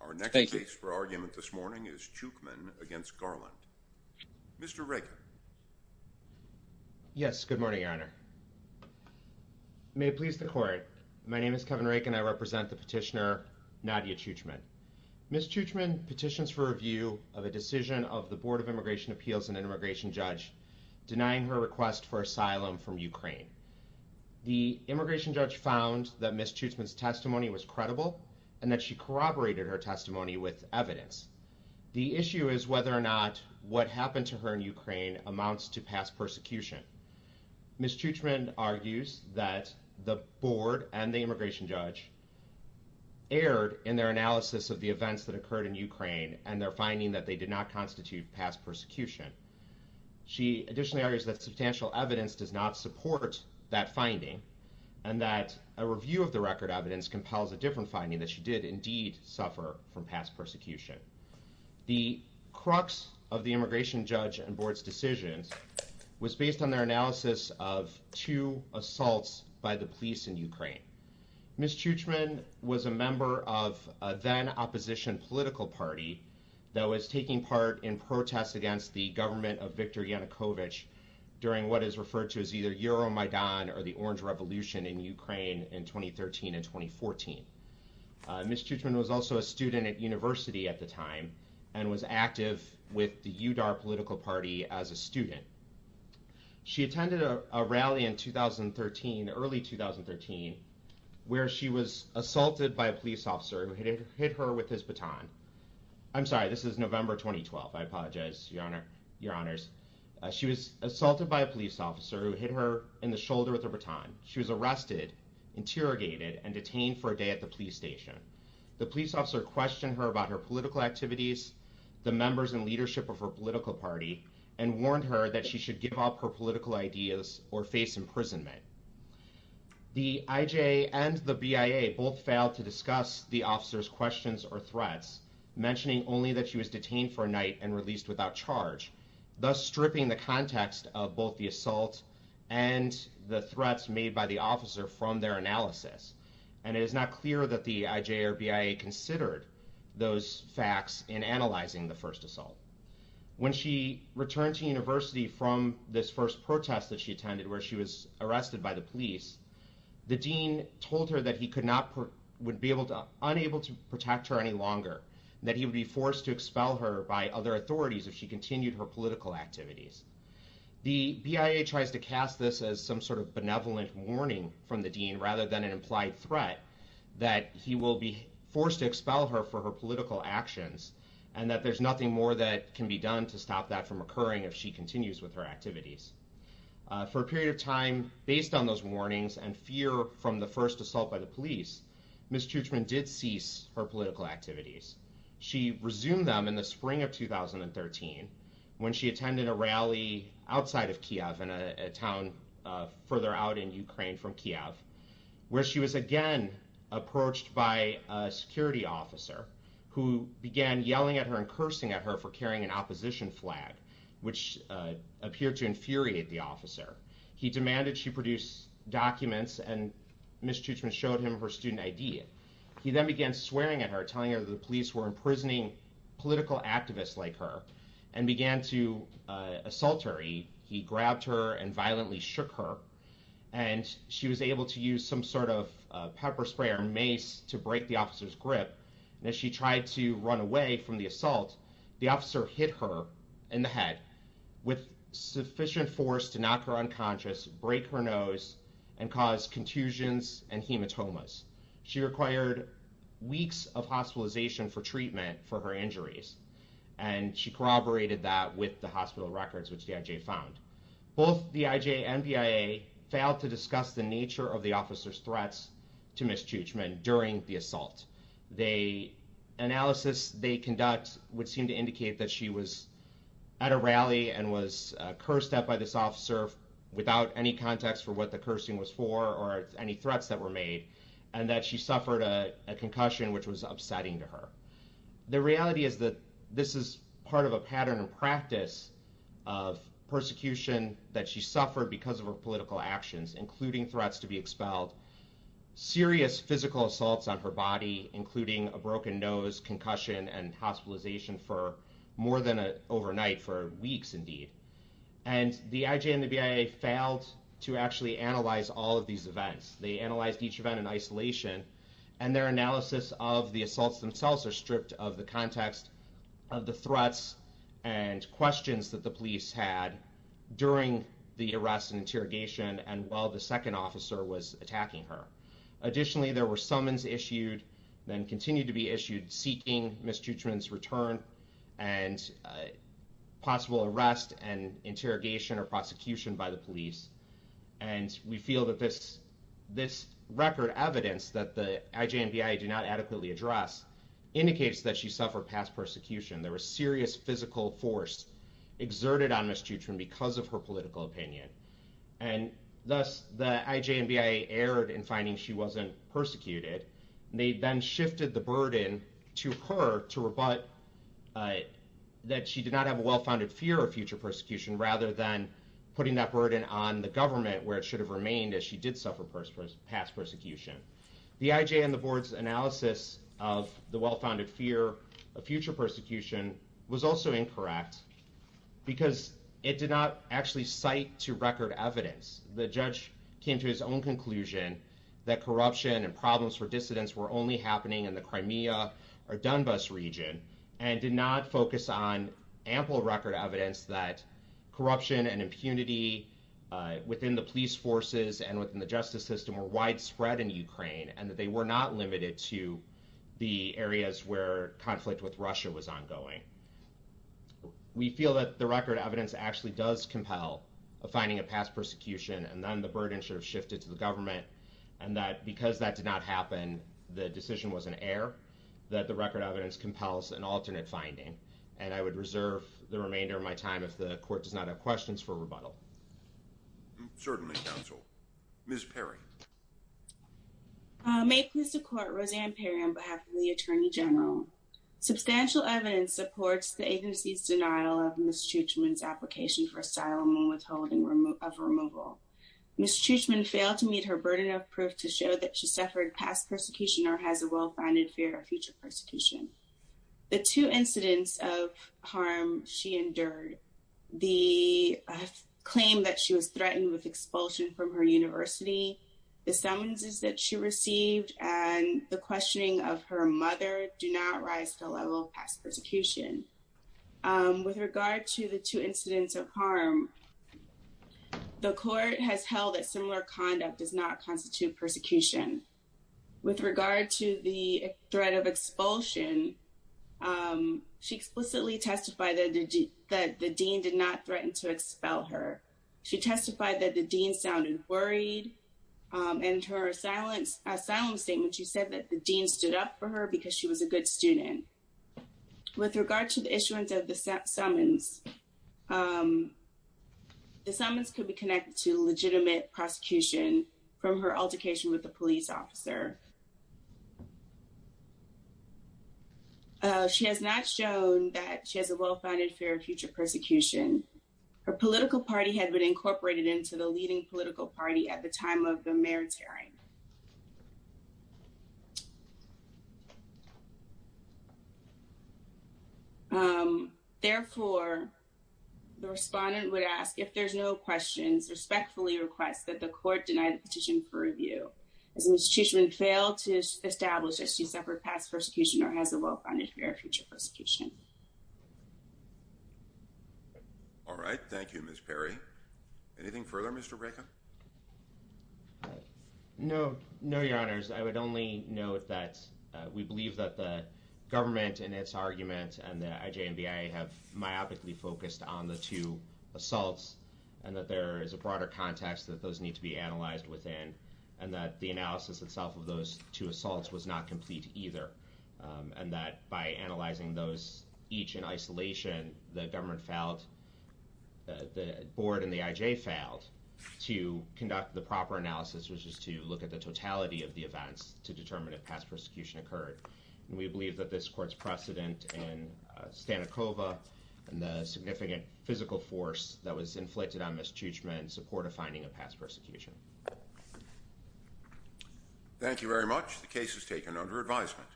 Our next case for argument this morning is Chuchman v. Garland. Mr. Raken. Yes, good morning, Your Honor. May it please the Court, my name is Kevin Raken and I represent the petitioner Nadia Chuchman. Ms. Chuchman petitions for review of a decision of the Board of Immigration Appeals and an immigration judge denying her request for asylum from Ukraine. The immigration judge found that Ms. Chuchman's testimony was credible and that she corroborated her testimony with evidence. The issue is whether or not what happened to her in Ukraine amounts to past persecution. Ms. Chuchman argues that the board and the immigration judge erred in their analysis of the events that occurred in Ukraine and their finding that they did not constitute past persecution. She additionally argues that substantial evidence does not support that finding and that a review of the record evidence compels a different finding that she did indeed suffer from past persecution. The crux of the immigration judge and board's decisions was based on their analysis of two assaults by the police in Ukraine. Ms. Chuchman was a member of a then opposition political party that was taking part in protests against the government of Viktor Yanukovych during what is referred to as either Euromaidan or the Orange Revolution in Ukraine in 2013 and 2014. Ms. Chuchman was also a student at university at the time and was active with the UDAR political party as a student. She attended a rally in 2013, early 2013, where she was assaulted by a police officer who hit her with his baton. I'm sorry, this is November 2012. I apologize, your honors. She was assaulted by a police officer who hit her in the shoulder with a baton. She was arrested, interrogated, and detained for a day at the police station. The police officer questioned her about her political activities, the members and leadership of her political party, and warned her that she should give up her political ideas or face imprisonment. The IJA and the BIA both failed to discuss the officer's questions or threats, mentioning only that she was detained for a night and released without charge, thus stripping the context of both the assault and the threats made by the officer from their analysis. And it is not clear that the IJA or BIA considered those facts in analyzing the first assault. When she returned to university from this first protest that she attended where she was arrested by the police, the dean told her that he would be unable to protect her any longer, that he would be forced to expel her by other authorities if she continued her political activities. The BIA tries to cast this as some sort of benevolent warning from the dean rather than an implied threat that he will be forced to expel her for her political actions, and that there's nothing more that can be done to stop that from occurring if she continues with her activities. For a period of time, based on those warnings and fear from the first assault by the police, Ms. Tuchman did cease her political activities. She resumed them in the spring of 2013 when she attended a rally outside of Kiev in a town further out in Ukraine from Kiev, where she was again approached by a security officer who began yelling at her and cursing at her for carrying an opposition flag, which appeared to infuriate the officer. He demanded she produce documents, and Ms. Tuchman showed him her student ID. He then began swearing at her, telling her that the police were imprisoning political activists like her, and began to assault her. He grabbed her and violently shook her, and she was able to use some sort of pepper spray or mace to break the officer's grip. As she tried to run away from the assault, the officer hit her in the head with sufficient force to knock her unconscious, break her nose, and cause contusions and hematomas. She required weeks of hospitalization for treatment for her injuries, and she corroborated that with the hospital records, which the IJ found. Both the IJ and BIA failed to discuss the nature of the officer's threats to Ms. Tuchman during the assault. The analysis they conduct would seem to indicate that she was at a rally and was cursed at by this officer without any context for what the cursing was for or any threats that were made, and that she suffered a concussion, which was upsetting to her. The reality is that this is part of a pattern and practice of persecution that she suffered because of her political actions, including threats to be expelled, serious physical assaults on her body, including a broken nose, concussion, and hospitalization for more than overnight, for weeks indeed. And the IJ and the BIA failed to actually analyze all of these events. They analyzed each event in isolation, and their analysis of the assaults themselves are stripped of the context of the threats and questions that the police had during the arrest and interrogation and while the second officer was attacking her. Additionally, there were summons issued and continue to be issued seeking Ms. Tuchman's return and possible arrest and interrogation or prosecution by the police. And we feel that this record evidence that the IJ and BIA did not adequately address indicates that she suffered past persecution. There was serious physical force exerted on Ms. Tuchman because of her political opinion. And thus, the IJ and BIA erred in finding she wasn't persecuted. They then shifted the burden to her to rebut that she did not have a well-founded fear of future persecution, rather than putting that burden on the government where it should have remained as she did suffer past persecution. The IJ and the board's analysis of the well-founded fear of future persecution was also incorrect because it did not actually cite to record evidence. The judge came to his own conclusion that corruption and problems for dissidents were only happening in the Crimea or Donbass region and did not focus on ample record evidence that corruption and impunity within the police forces and within the justice system were widespread in Ukraine and that they were not limited to the areas where conflict with Russia was ongoing. We feel that the record evidence actually does compel finding a past persecution and then the burden should have shifted to the government and that because that did not happen, the decision was an error, that the record evidence compels an alternate finding. And I would reserve the remainder of my time if the court does not have questions for rebuttal. Certainly, counsel. Ms. Perry. May it please the court, Roseanne Perry on behalf of the Attorney General. Substantial evidence supports the agency's denial of Ms. Tuchman's application for asylum and withholding of removal. Ms. Tuchman failed to meet her burden of proof to show that she suffered past persecution or has a well-founded fear of future persecution. The two incidents of harm she endured, the claim that she was threatened with expulsion from her university, the summonses that she received and the questioning of her mother do not rise to the level of past persecution. With regard to the two incidents of harm, the court has held that similar conduct does not constitute persecution. With regard to the threat of expulsion, she explicitly testified that the dean did not threaten to expel her. She testified that the dean sounded worried and her asylum statement, she said that the dean stood up for her because she was a good student. With regard to the issuance of the summons, the summons could be connected to legitimate prosecution from her altercation with a police officer. She has not shown that she has a well-founded fear of future persecution. Her political party had been incorporated into the leading political party at the time of the mayor's hearing. Therefore, the respondent would ask if there's no questions, respectfully request that the court deny the petition for review. Has the institution failed to establish that she suffered past persecution or has a well-founded fear of future persecution? All right. Thank you, Ms. Perry. Anything further, Mr. Braca? No, no, Your Honors. I would only note that we believe that the government in its argument and the IJ and BIA have myopically focused on the two assaults and that there is a broader context that those need to be analyzed within and that the analysis itself of those two assaults was not complete either and that by analyzing those each in isolation, the government failed, the board and the IJ failed to conduct the proper analysis which is to look at the totality of the events to determine if past persecution occurred. And we believe that this court's precedent in Stanikova and the significant physical force that was inflicted on Ms. Tuchman in support of finding a past persecution. Thank you very much. The case is taken under advisement.